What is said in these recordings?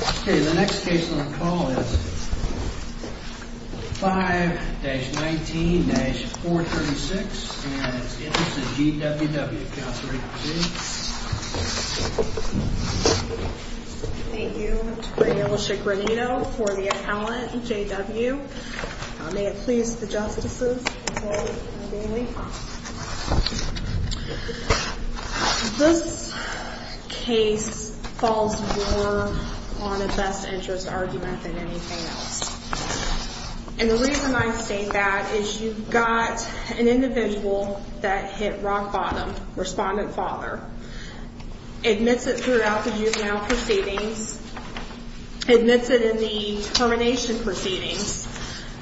Okay, the next case on the call is 5-19-436 and it's the Interest of G.W.W. Thank you, Attorney General Chick Renito for the accountant, J.W. May it please the Justices, McCoy and Bailey. This case falls more on a best interest argument than anything else. And the reason I say that is you've got an individual that hit rock bottom, respondent father, admits it throughout the juvenile proceedings, admits it in the termination proceedings.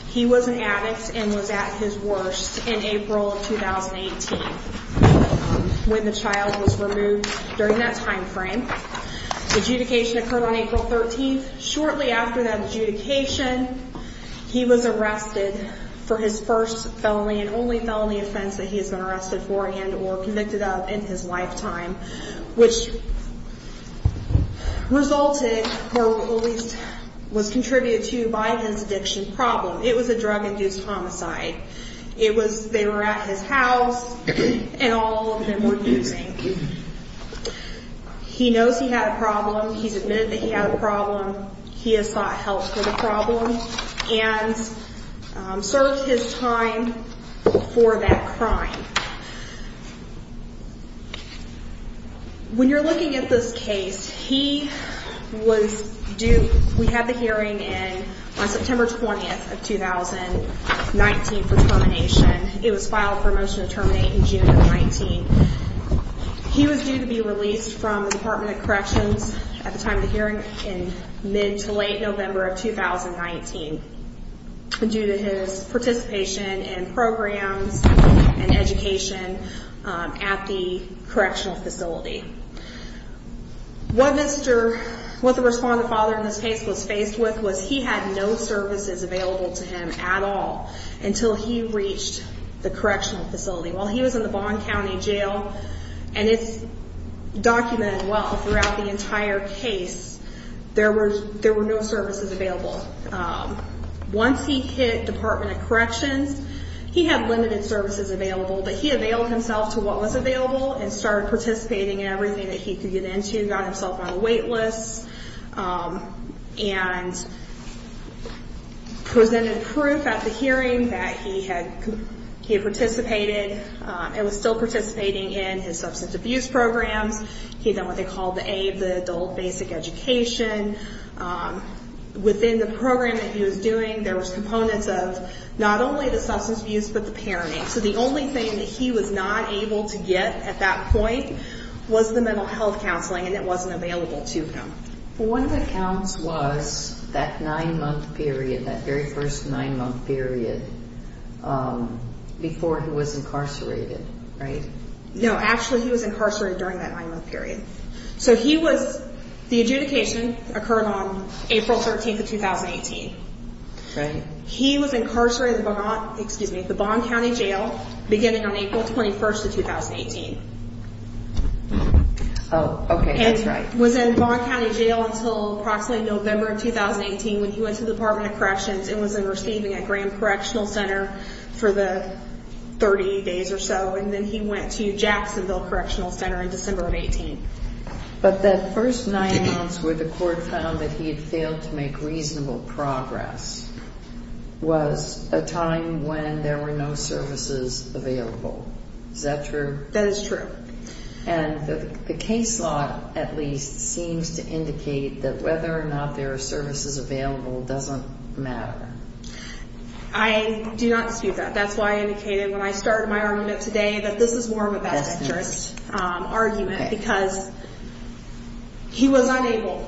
He was an addict and was at his worst in April of 2018 when the child was removed during that time frame. Adjudication occurred on April 13th. Shortly after that adjudication, he was arrested for his first felony and only felony offense that he has been arrested for and or convicted of in his lifetime, which resulted or at least was contributed to by his addiction problem. It was a drug-induced homicide. They were at his house and all of them were abusing. He knows he had a problem. He's admitted that he had a problem. He has sought help for the problem and served his time for that crime. When you're looking at this case, he was due, we had the hearing on September 20th of 2019 for termination. It was filed for a motion to terminate in June of 19. He was due to be released from the Department of Corrections at the time of the hearing in mid to late November of 2019. Due to his participation in programs and education at the correctional facility. What the respondent father in this case was faced with was he had no services available to him at all until he reached the correctional facility. While he was in the Bond County Jail, and it's documented well throughout the entire case, there were no services available. Once he hit Department of Corrections, he had limited services available. But he availed himself to what was available and started participating in everything that he could get into. He got himself on a wait list and presented proof at the hearing that he had participated and was still participating in his substance abuse programs. He had done what they called the adult basic education. Within the program that he was doing, there was components of not only the substance abuse, but the parenting. So the only thing that he was not able to get at that point was the mental health counseling and it wasn't available to him. One of the accounts was that nine month period, that very first nine month period before he was incarcerated, right? No, actually he was incarcerated during that nine month period. So he was, the adjudication occurred on April 13th of 2018. He was incarcerated at the Bond County Jail beginning on April 21st of 2018. Oh, okay, that's right. And was in Bond County Jail until approximately November of 2018 when he went to the Department of Corrections and was receiving at Graham Correctional Center for the 30 days or so. And then he went to Jacksonville Correctional Center in December of 2018. But that first nine months where the court found that he had failed to make reasonable progress was a time when there were no services available. Is that true? That is true. And the case law, at least, seems to indicate that whether or not there are services available doesn't matter. I do not dispute that. That's why I indicated when I started my argument today that this is more of a bad interest argument because he was unable.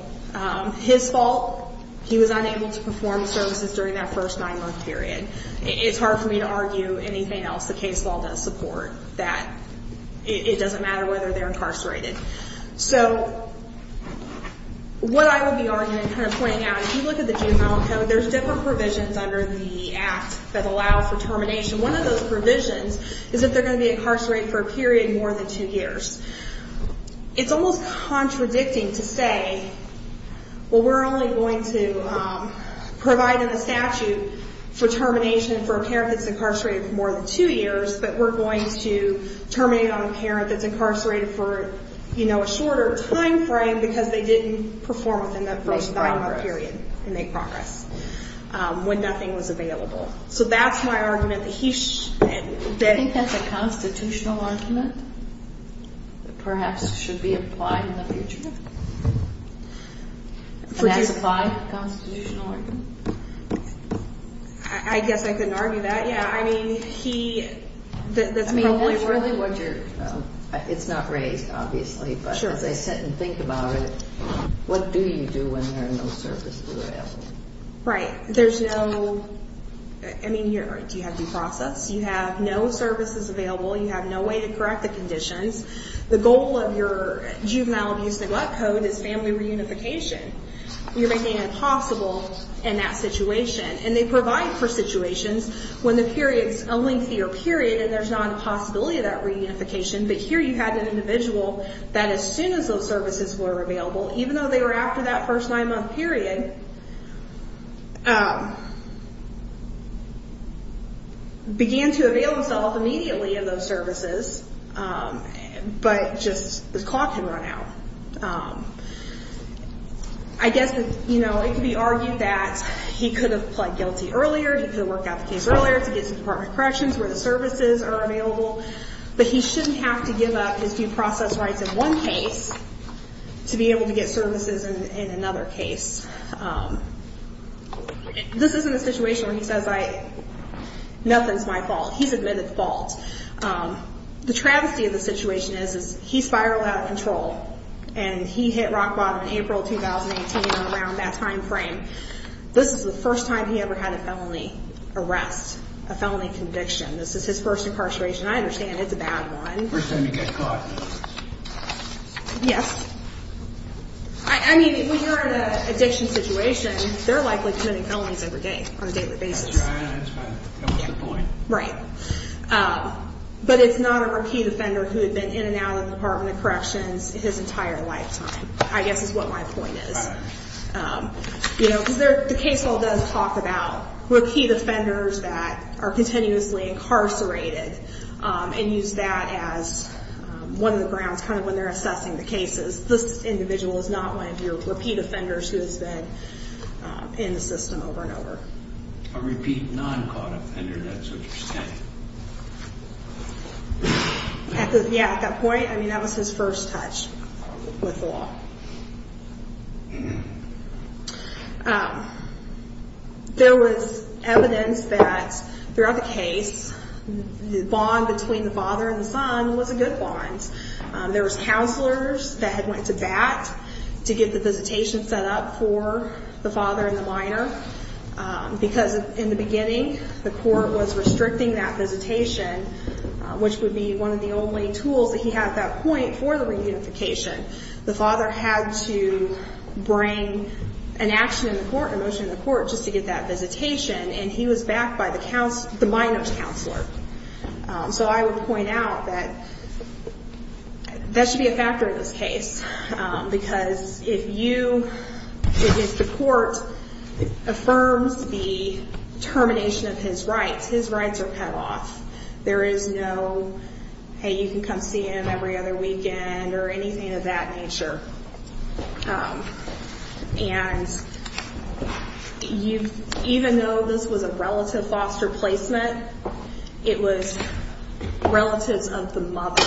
His fault, he was unable to perform services during that first nine month period. It's hard for me to argue anything else the case law does support that it doesn't matter whether they're incarcerated. So what I would be arguing and kind of pointing out, if you look at the juvenile code, there's different provisions under the act that allow for termination. One of those provisions is that they're going to be incarcerated for a period more than two years. It's almost contradicting to say, well, we're only going to provide in the statute for termination for a parent that's incarcerated for more than two years, but we're going to terminate on a parent that's incarcerated for, you know, a shorter time frame because they didn't perform within that first nine month period and make progress when nothing was available. Do you think that's a constitutional argument that perhaps should be applied in the future? I guess I couldn't argue that yet. I mean, he. I mean, that's really what you're. It's not raised, obviously, but as I sit and think about it, what do you do when there are no services available? Right. There's no. I mean, do you have due process? You have no services available. You have no way to correct the conditions. The goal of your juvenile abuse neglect code is family reunification. You're making it impossible in that situation. And they provide for situations when the period's a lengthier period and there's not a possibility of that reunification. But here you had an individual that as soon as those services were available, even though they were after that first nine month period, began to avail themselves immediately of those services. But just the clock had run out. I guess, you know, it could be argued that he could have pled guilty earlier. He could have worked out the case earlier to get to the Department of Corrections where the services are available. But he shouldn't have to give up his due process rights in one case to be able to get services in another case. This isn't a situation where he says nothing's my fault. He's admitted the fault. The travesty of the situation is he spiraled out of control and he hit rock bottom in April 2018 around that time frame. This is the first time he ever had a felony arrest, a felony conviction. This is his first incarceration. I understand it's a bad one. First time to get caught. Yes. I mean, when you're in an addiction situation, they're likely committing felonies every day on a daily basis. That's right. That's the point. Right. But it's not a repeat offender who had been in and out of the Department of Corrections his entire lifetime, I guess is what my point is. Because the case law does talk about repeat offenders that are continuously incarcerated and use that as one of the grounds kind of when they're assessing the cases. This individual is not one of your repeat offenders who has been in the system over and over. A repeat non-caught offender, that's what you're saying. Yeah, at that point, I mean, that was his first touch with law. There was evidence that throughout the case, the bond between the father and the son was a good bond. There was counselors that had went to bat to get the visitation set up for the father and the minor. Because in the beginning, the court was restricting that visitation, which would be one of the only tools that he had at that point for the reunification. The father had to bring an action in the court, a motion in the court, just to get that visitation, and he was backed by the minor's counselor. I would point out that that should be a factor in this case. Because if the court affirms the termination of his rights, his rights are cut off. There is no, hey, you can come see him every other weekend or anything of that nature. And even though this was a relative foster placement, it was relatives of the mother.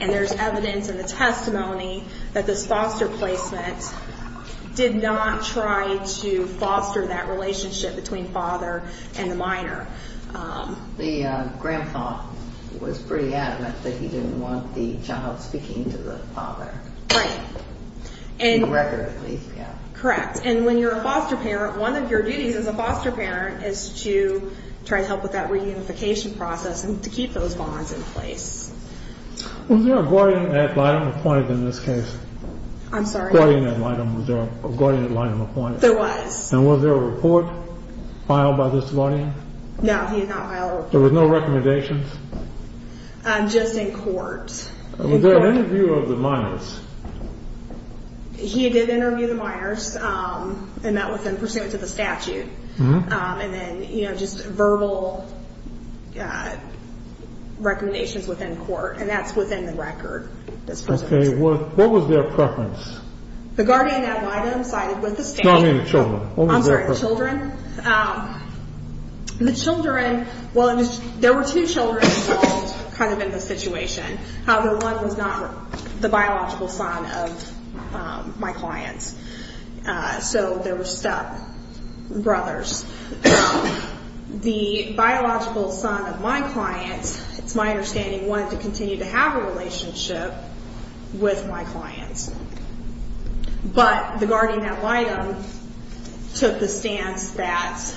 And there's evidence in the testimony that this foster placement did not try to foster that relationship between father and the minor. The grandpa was pretty adamant that he didn't want the child speaking to the father. And when you're a foster parent, one of your duties as a foster parent is to try to help with that reunification process and to keep those bonds in place. Was there a guardian at line appointed in this case? I'm sorry? Was there a guardian at line appointed? There was. And was there a report filed by this guardian? No, he did not file a report. There was no recommendations? Just in court. Was there an interview of the minors? He did interview the minors and met with them pursuant to the statute. And then, you know, just verbal recommendations within court. And that's within the record. Okay. What was their preference? The guardian at line I'm sorry, was the state. No, I mean the children. I'm sorry, the children. The children, well, there were two children involved kind of in this situation. However, one was not the biological son of my clients. So there were stepbrothers. The biological son of my clients, it's my understanding, wanted to continue to have a relationship with my clients. But the guardian at line took the stance that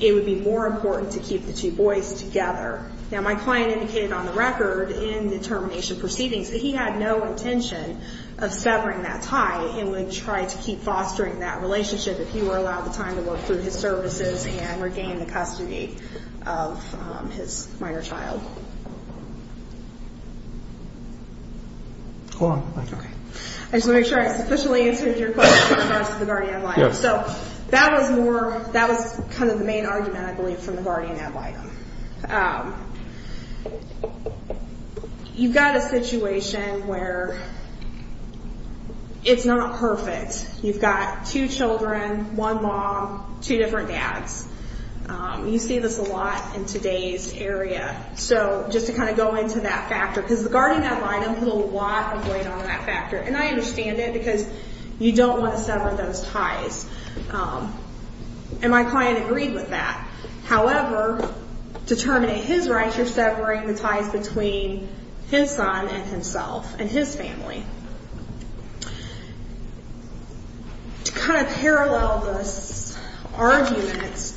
it would be more important to keep the two boys together. Now, my client indicated on the record in the termination proceedings that he had no intention of severing that tie and would try to keep fostering that relationship if he were allowed the time to work through his services and regain the custody of his minor child. I just want to make sure I've sufficiently answered your question in regards to the guardian at line. So that was more, that was kind of the main argument, I believe, from the guardian at line. You've got a situation where it's not perfect. You've got two children, one mom, two different dads. You see this a lot in today's area. So just to kind of go into that factor, because the guardian at line put a lot of weight on that factor. And I understand it because you don't want to sever those ties. And my client agreed with that. However, to terminate his rights, you're severing the ties between his son and himself and his family. To kind of parallel this argument,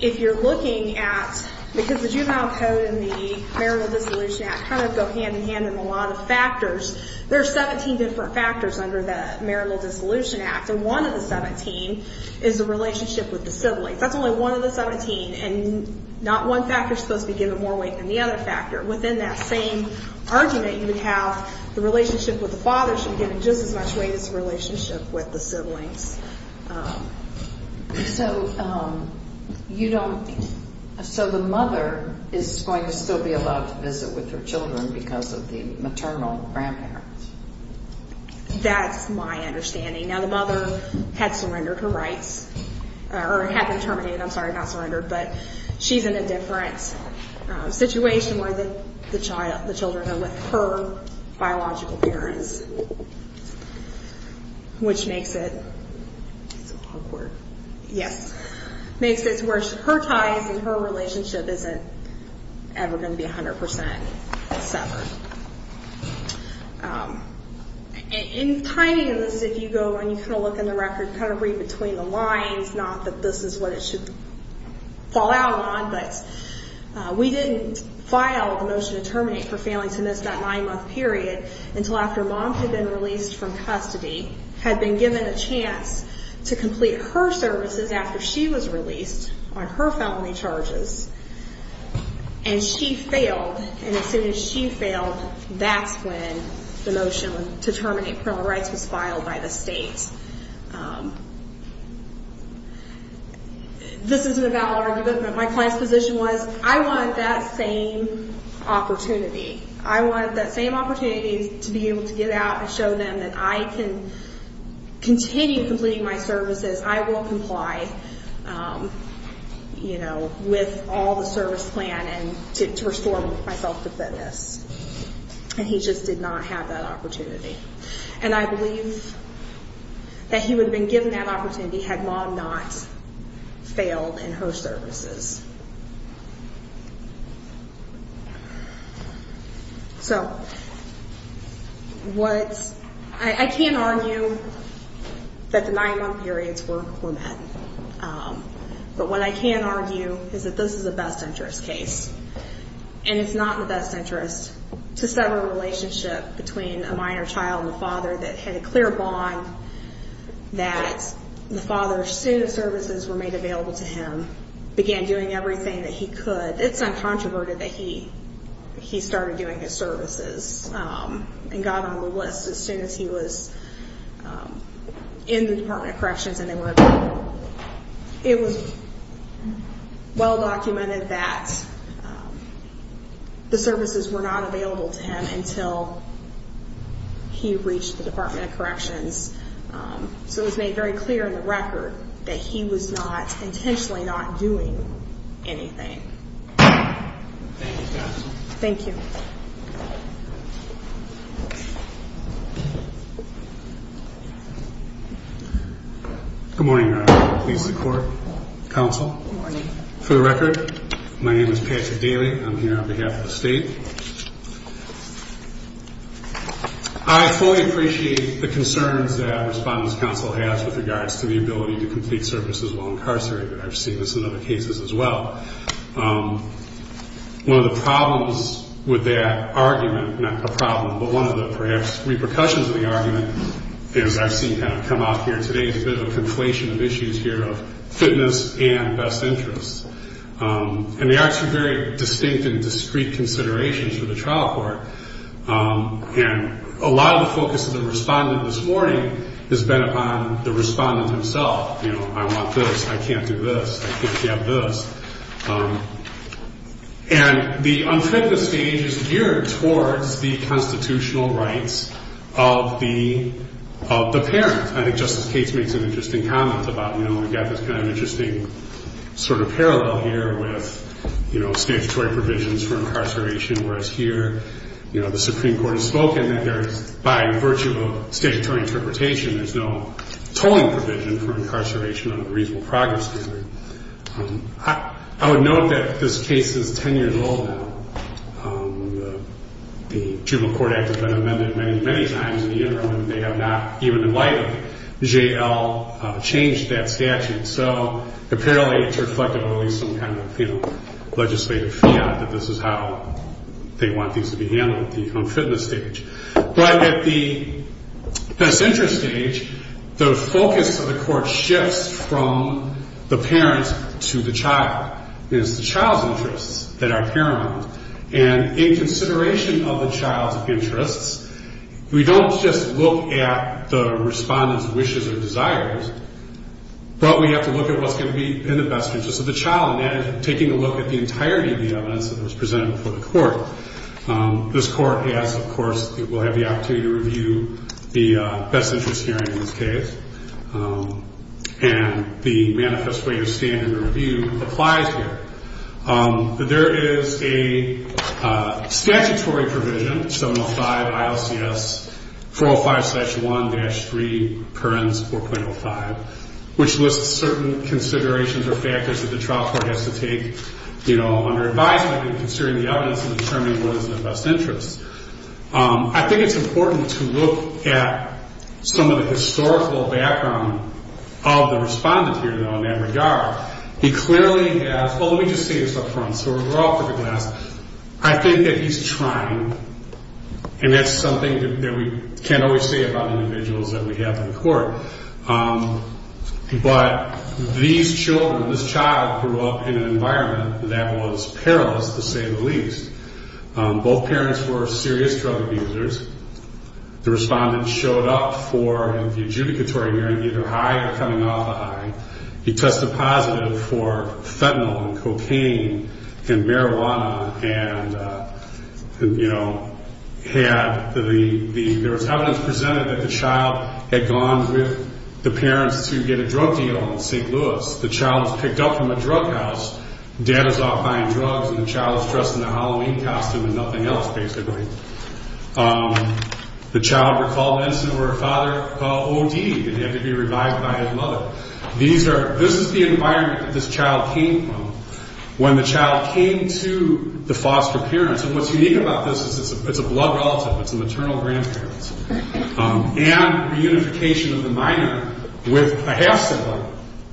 if you're looking at, because the Juvenile Code and the Marital Dissolution Act kind of go hand in hand in a lot of factors, there are 17 different factors under the Marital Dissolution Act. And one of the 17 is the relationship with the siblings. That's only one of the 17, and not one factor is supposed to be given more weight than the other factor. Within that same argument, you would have the relationship with the father should be given just as much weight as the relationship with the siblings. So the mother is going to still be allowed to visit with her children because of the maternal grandparents? That's my understanding. Now, the mother had surrendered her rights, or had been terminated. I'm sorry, not surrendered. But she's in a different situation where the children are with her biological parents, which makes it? It's awkward. Yes. Makes it where her ties and her relationship isn't ever going to be 100% severed. In timing of this, if you go and you kind of look in the record, kind of read between the lines, not that this is what it should fall out on, but we didn't file the motion to terminate for failing to miss that nine-month period until after mom had been released from custody, had been given a chance to complete her services after she was released on her felony charges, and she failed. And as soon as she failed, that's when the motion to terminate parental rights was filed by the state. This isn't about argument, but my client's position was, I want that same opportunity. I want that same opportunity to be able to get out and show them that I can continue completing my services. I will comply with all the service plan and to restore myself to fitness. And he just did not have that opportunity. And I believe that he would have been given that opportunity had mom not failed in her services. So what's – I can't argue that the nine-month periods were met, but what I can argue is that this is a best interest case. And it's not in the best interest to sever a relationship between a minor child and a father that had a clear bond, that the father, as soon as services were made available to him, began doing everything that he could. It's uncontroverted that he started doing his services and got on the list as soon as he was in the Department of Corrections. It was well documented that the services were not available to him until he reached the Department of Corrections. So it was made very clear in the record that he was not – intentionally not doing anything. Thank you, counsel. Thank you. Good morning, everyone. Please support counsel. Good morning. For the record, my name is Patrick Daly. I'm here on behalf of the state. I fully appreciate the concerns that respondents' counsel has with regards to the ability to complete services while incarcerated. I've seen this in other cases as well. One of the problems with that argument – not a problem, but one of the perhaps repercussions of the argument is I've seen kind of come out here today a bit of a conflation of issues here of fitness and best interests. And they are two very distinct and discrete considerations for the trial court. And a lot of the focus of the respondent this morning has been upon the respondent himself. You know, I want this. I can't do this. I think you have this. And the unfitness stage is geared towards the constitutional rights of the parent. I think Justice Cates makes an interesting comment about, you know, we've got this kind of interesting sort of parallel here with, you know, statutory provisions for incarceration, whereas here, you know, the Supreme Court has spoken that there's – by virtue of a statutory interpretation, there's no tolling provision for incarceration under the reasonable progress standard. I would note that this case is 10 years old now. The Juvenile Court Act has been amended many, many times in the interim, and they have not even in light of it, JL, changed that statute. So apparently it's reflective of at least some kind of, you know, legislative fiat that this is how they want things to be handled at the unfitness stage. But at the best interest stage, the focus of the court shifts from the parent to the child. It's the child's interests that are paramount. And in consideration of the child's interests, we don't just look at the respondent's wishes or desires, but we have to look at what's going to be in the best interest of the child, and that is taking a look at the entirety of the evidence that was presented before the court. This court has, of course, will have the opportunity to review the best interest hearing in this case, and the manifest way to stand in the review applies here. There is a statutory provision, 705 ILCS 405-1-3, Perens 4.05, which lists certain considerations or factors that the trial court has to take, you know, under advisement in considering the evidence and determining what is in the best interest. I think it's important to look at some of the historical background of the respondent here, though, in that regard. He clearly has – well, let me just say this up front, so we're all for the best. I think that he's trying, and that's something that we can't always say about individuals that we have in court. But these children, this child grew up in an environment that was perilous, to say the least. Both parents were serious drug abusers. The respondent showed up for the adjudicatory hearing either high or coming off high. He tested positive for fentanyl and cocaine and marijuana and, you know, had the – with the parents to get a drug deal in St. Louis. The child was picked up from a drug house. Dad was off buying drugs, and the child was dressed in a Halloween costume and nothing else, basically. The child recalled medicine or her father OD'd, and he had to be revived by his mother. These are – this is the environment that this child came from. When the child came to the foster parents – and what's unique about this is it's a blood relative. It's the maternal grandparents. And reunification of the minor with a half sibling,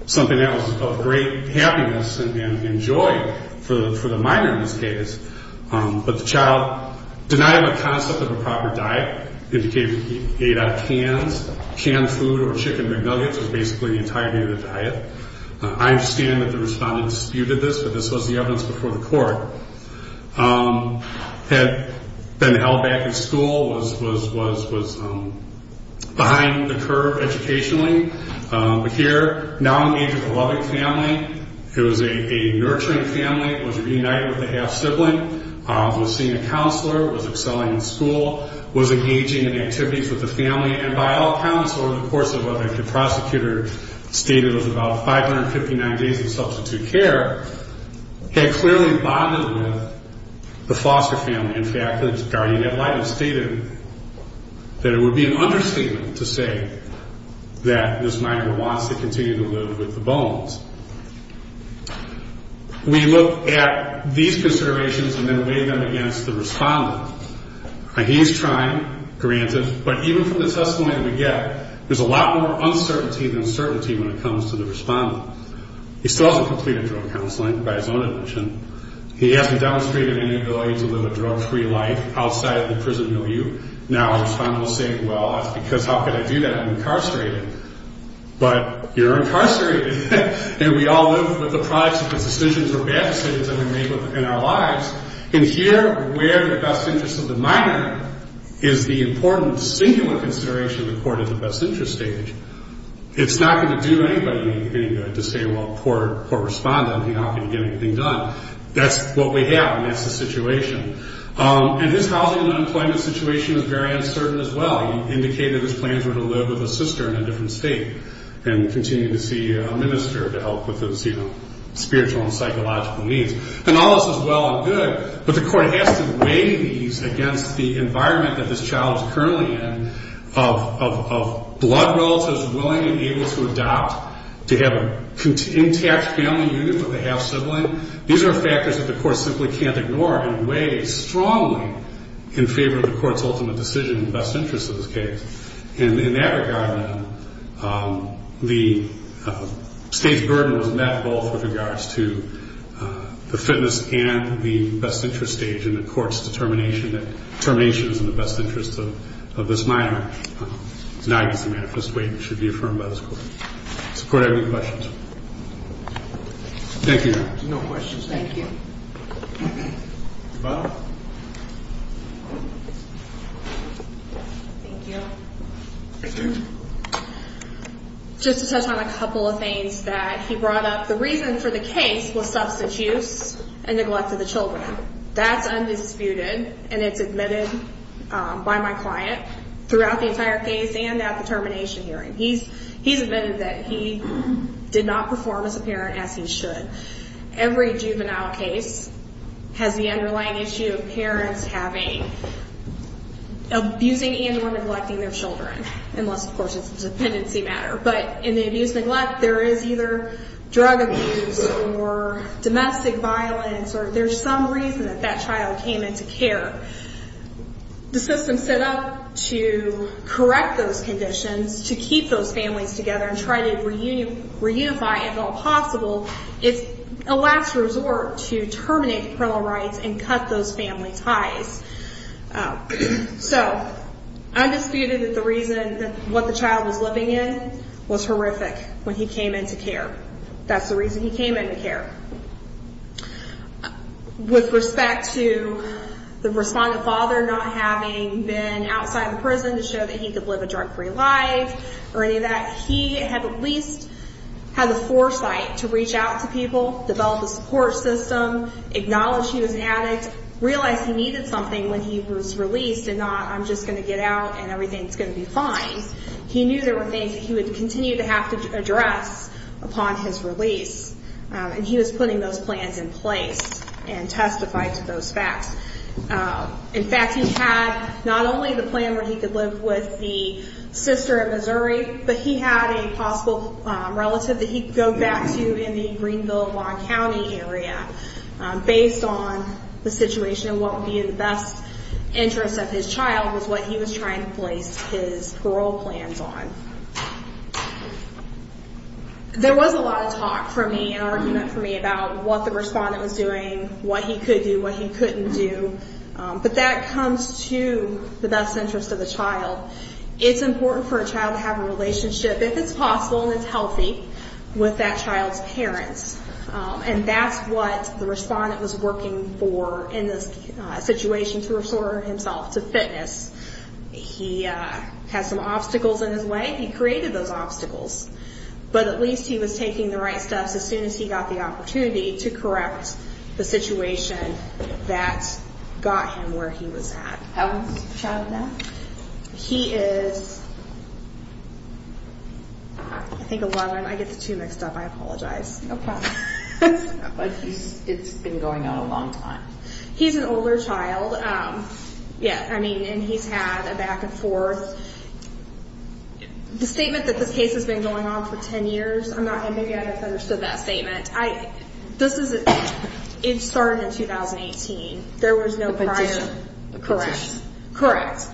something that was of great happiness and joy for the minor in this case. But the child denied the concept of a proper diet. It indicated he ate out of cans. Canned food or chicken McNuggets was basically the entirety of the diet. I understand that the respondent disputed this, but this was the evidence before the court. Had been held back in school, was behind the curve educationally, but here now engaged with a loving family. It was a nurturing family, was reunited with a half sibling, was seeing a counselor, was excelling in school, was engaging in activities with the family. And by all accounts, over the course of what the prosecutor stated was about 559 days of substitute care, had clearly bonded with the foster family. In fact, the guardian ad litem stated that it would be an understatement to say that this minor wants to continue to live with the bones. We look at these considerations and then weigh them against the respondent. He's trying, granted, but even from the testimony that we get, there's a lot more uncertainty than certainty when it comes to the respondent. He still hasn't completed drug counseling by his own admission. He hasn't demonstrated any ability to live a drug-free life outside of the prison milieu. Now a respondent will say, well, that's because how could I do that? I'm incarcerated. But you're incarcerated, and we all live with the products of the decisions or bad decisions that we make in our lives. And here, where the best interest of the minor is the important singular consideration of the court at the best interest stage. It's not going to do anybody any good to say, well, poor respondent, how can you get anything done? That's what we have, and that's the situation. And his housing and employment situation is very uncertain as well. He indicated his plans were to live with a sister in a different state and continue to see a minister to help with his spiritual and psychological needs. And all this is well and good, but the court has to weigh these against the environment that this child is currently in of blood relatives willing and able to adopt, to have an intact family unit with a half-sibling. These are factors that the court simply can't ignore and weighs strongly in favor of the court's ultimate decision in the best interest of this case. And in that regard, the state's burden was met both with regards to the fitness and the best interest stage and the court's determination that termination is in the best interest of this minor. It's an obvious and manifest way it should be affirmed by this court. Does the court have any questions? Thank you, Your Honor. There's no questions. Thank you. Ms. Butler? Thank you. Just to touch on a couple of things that he brought up, the reason for the case was substance use and neglect of the children. That's undisputed, and it's admitted by my client throughout the entire case and at the termination hearing. He's admitted that he did not perform as a parent as he should. Every juvenile case has the underlying issue of parents having, abusing and or neglecting their children, unless, of course, it's a dependency matter. But in the abuse and neglect, there is either drug abuse or domestic violence, or there's some reason that that child came into care. The system set up to correct those conditions, to keep those families together and try to reunify, if at all possible, is a last resort to terminate the parental rights and cut those family ties. So, undisputed that the reason that what the child was living in was horrific when he came into care. That's the reason he came into care. With respect to the respondent father not having been outside the prison to show that he could live a drug-free life or any of that, he had at least had the foresight to reach out to people, develop a support system, acknowledge he was an addict, realize he needed something when he was released and not, I'm just going to get out and everything's going to be fine. He knew there were things that he would continue to have to address upon his release, and he was putting those plans in place and testified to those facts. In fact, he had not only the plan where he could live with the sister in Missouri, but he had a possible relative that he could go back to in the Greenville-Lawn County area based on the situation and what would be in the best interest of his child was what he was trying to place his parole plans on. There was a lot of talk for me and argument for me about what the respondent was doing, what he could do, what he couldn't do, but that comes to the best interest of the child. It's important for a child to have a relationship, if it's possible and it's healthy, with that child's parents, and that's what the respondent was working for in this situation to restore himself to fitness. He had some obstacles in his way. He created those obstacles, but at least he was taking the right steps as soon as he got the opportunity to correct the situation that got him where he was at. How old is the child now? He is, I think, 11. I get the two mixed up. I apologize. No problem. It's been going on a long time. He's an older child, and he's had a back and forth. The statement that this case has been going on for 10 years, I'm not going to get into that statement. It started in 2018. The petition. Correct. Correct.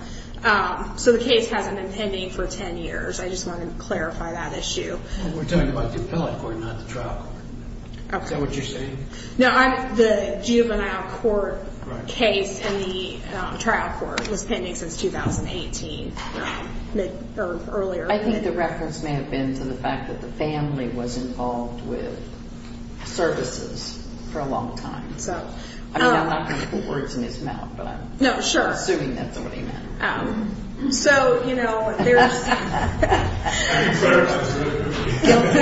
So the case hasn't been pending for 10 years. I just wanted to clarify that issue. We're talking about the appellate court, not the trial court. Is that what you're saying? No, the juvenile court case in the trial court was pending since 2018 or earlier. I think the reference may have been to the fact that the family was involved with services for a long time. I'm not going to put words in his mouth, but I'm assuming that's what he meant. So, you know, there's... I think Clara's answer is really good. Guilty.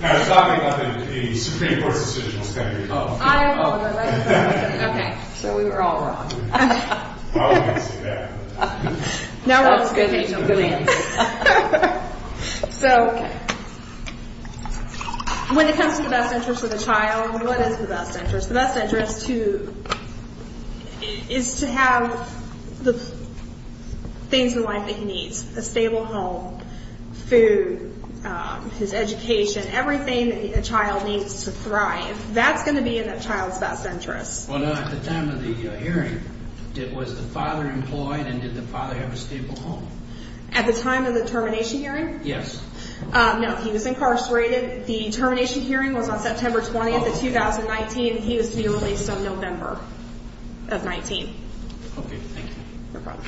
Guilty. I was talking about the Supreme Court's decision was pending. I apologize. I apologize. Okay. So we were all wrong. Oh, I didn't see that. That was good. That was a good answer. So when it comes to the best interest of the child, what is the best interest? The best interest is to have the things in life that he needs, a stable home, food, his education, everything a child needs to thrive. That's going to be in that child's best interest. Well, no, at the time of the hearing, was the father employed and did the father have a stable home? At the time of the termination hearing? Yes. No, he was incarcerated. The termination hearing was on September 20th of 2019. He was to be released on November of 19. Okay, thank you. No problem.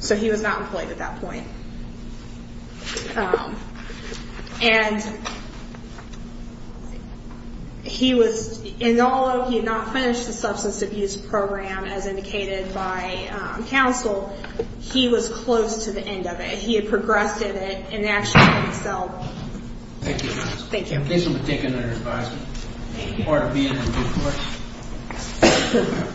So he was not employed at that point. And he was, although he had not finished the substance abuse program as indicated by counsel, he was close to the end of it. He had progressed in it and actually excelled. Thank you. Thank you. Please let me take another advice. Thank you. Part of being in a good court.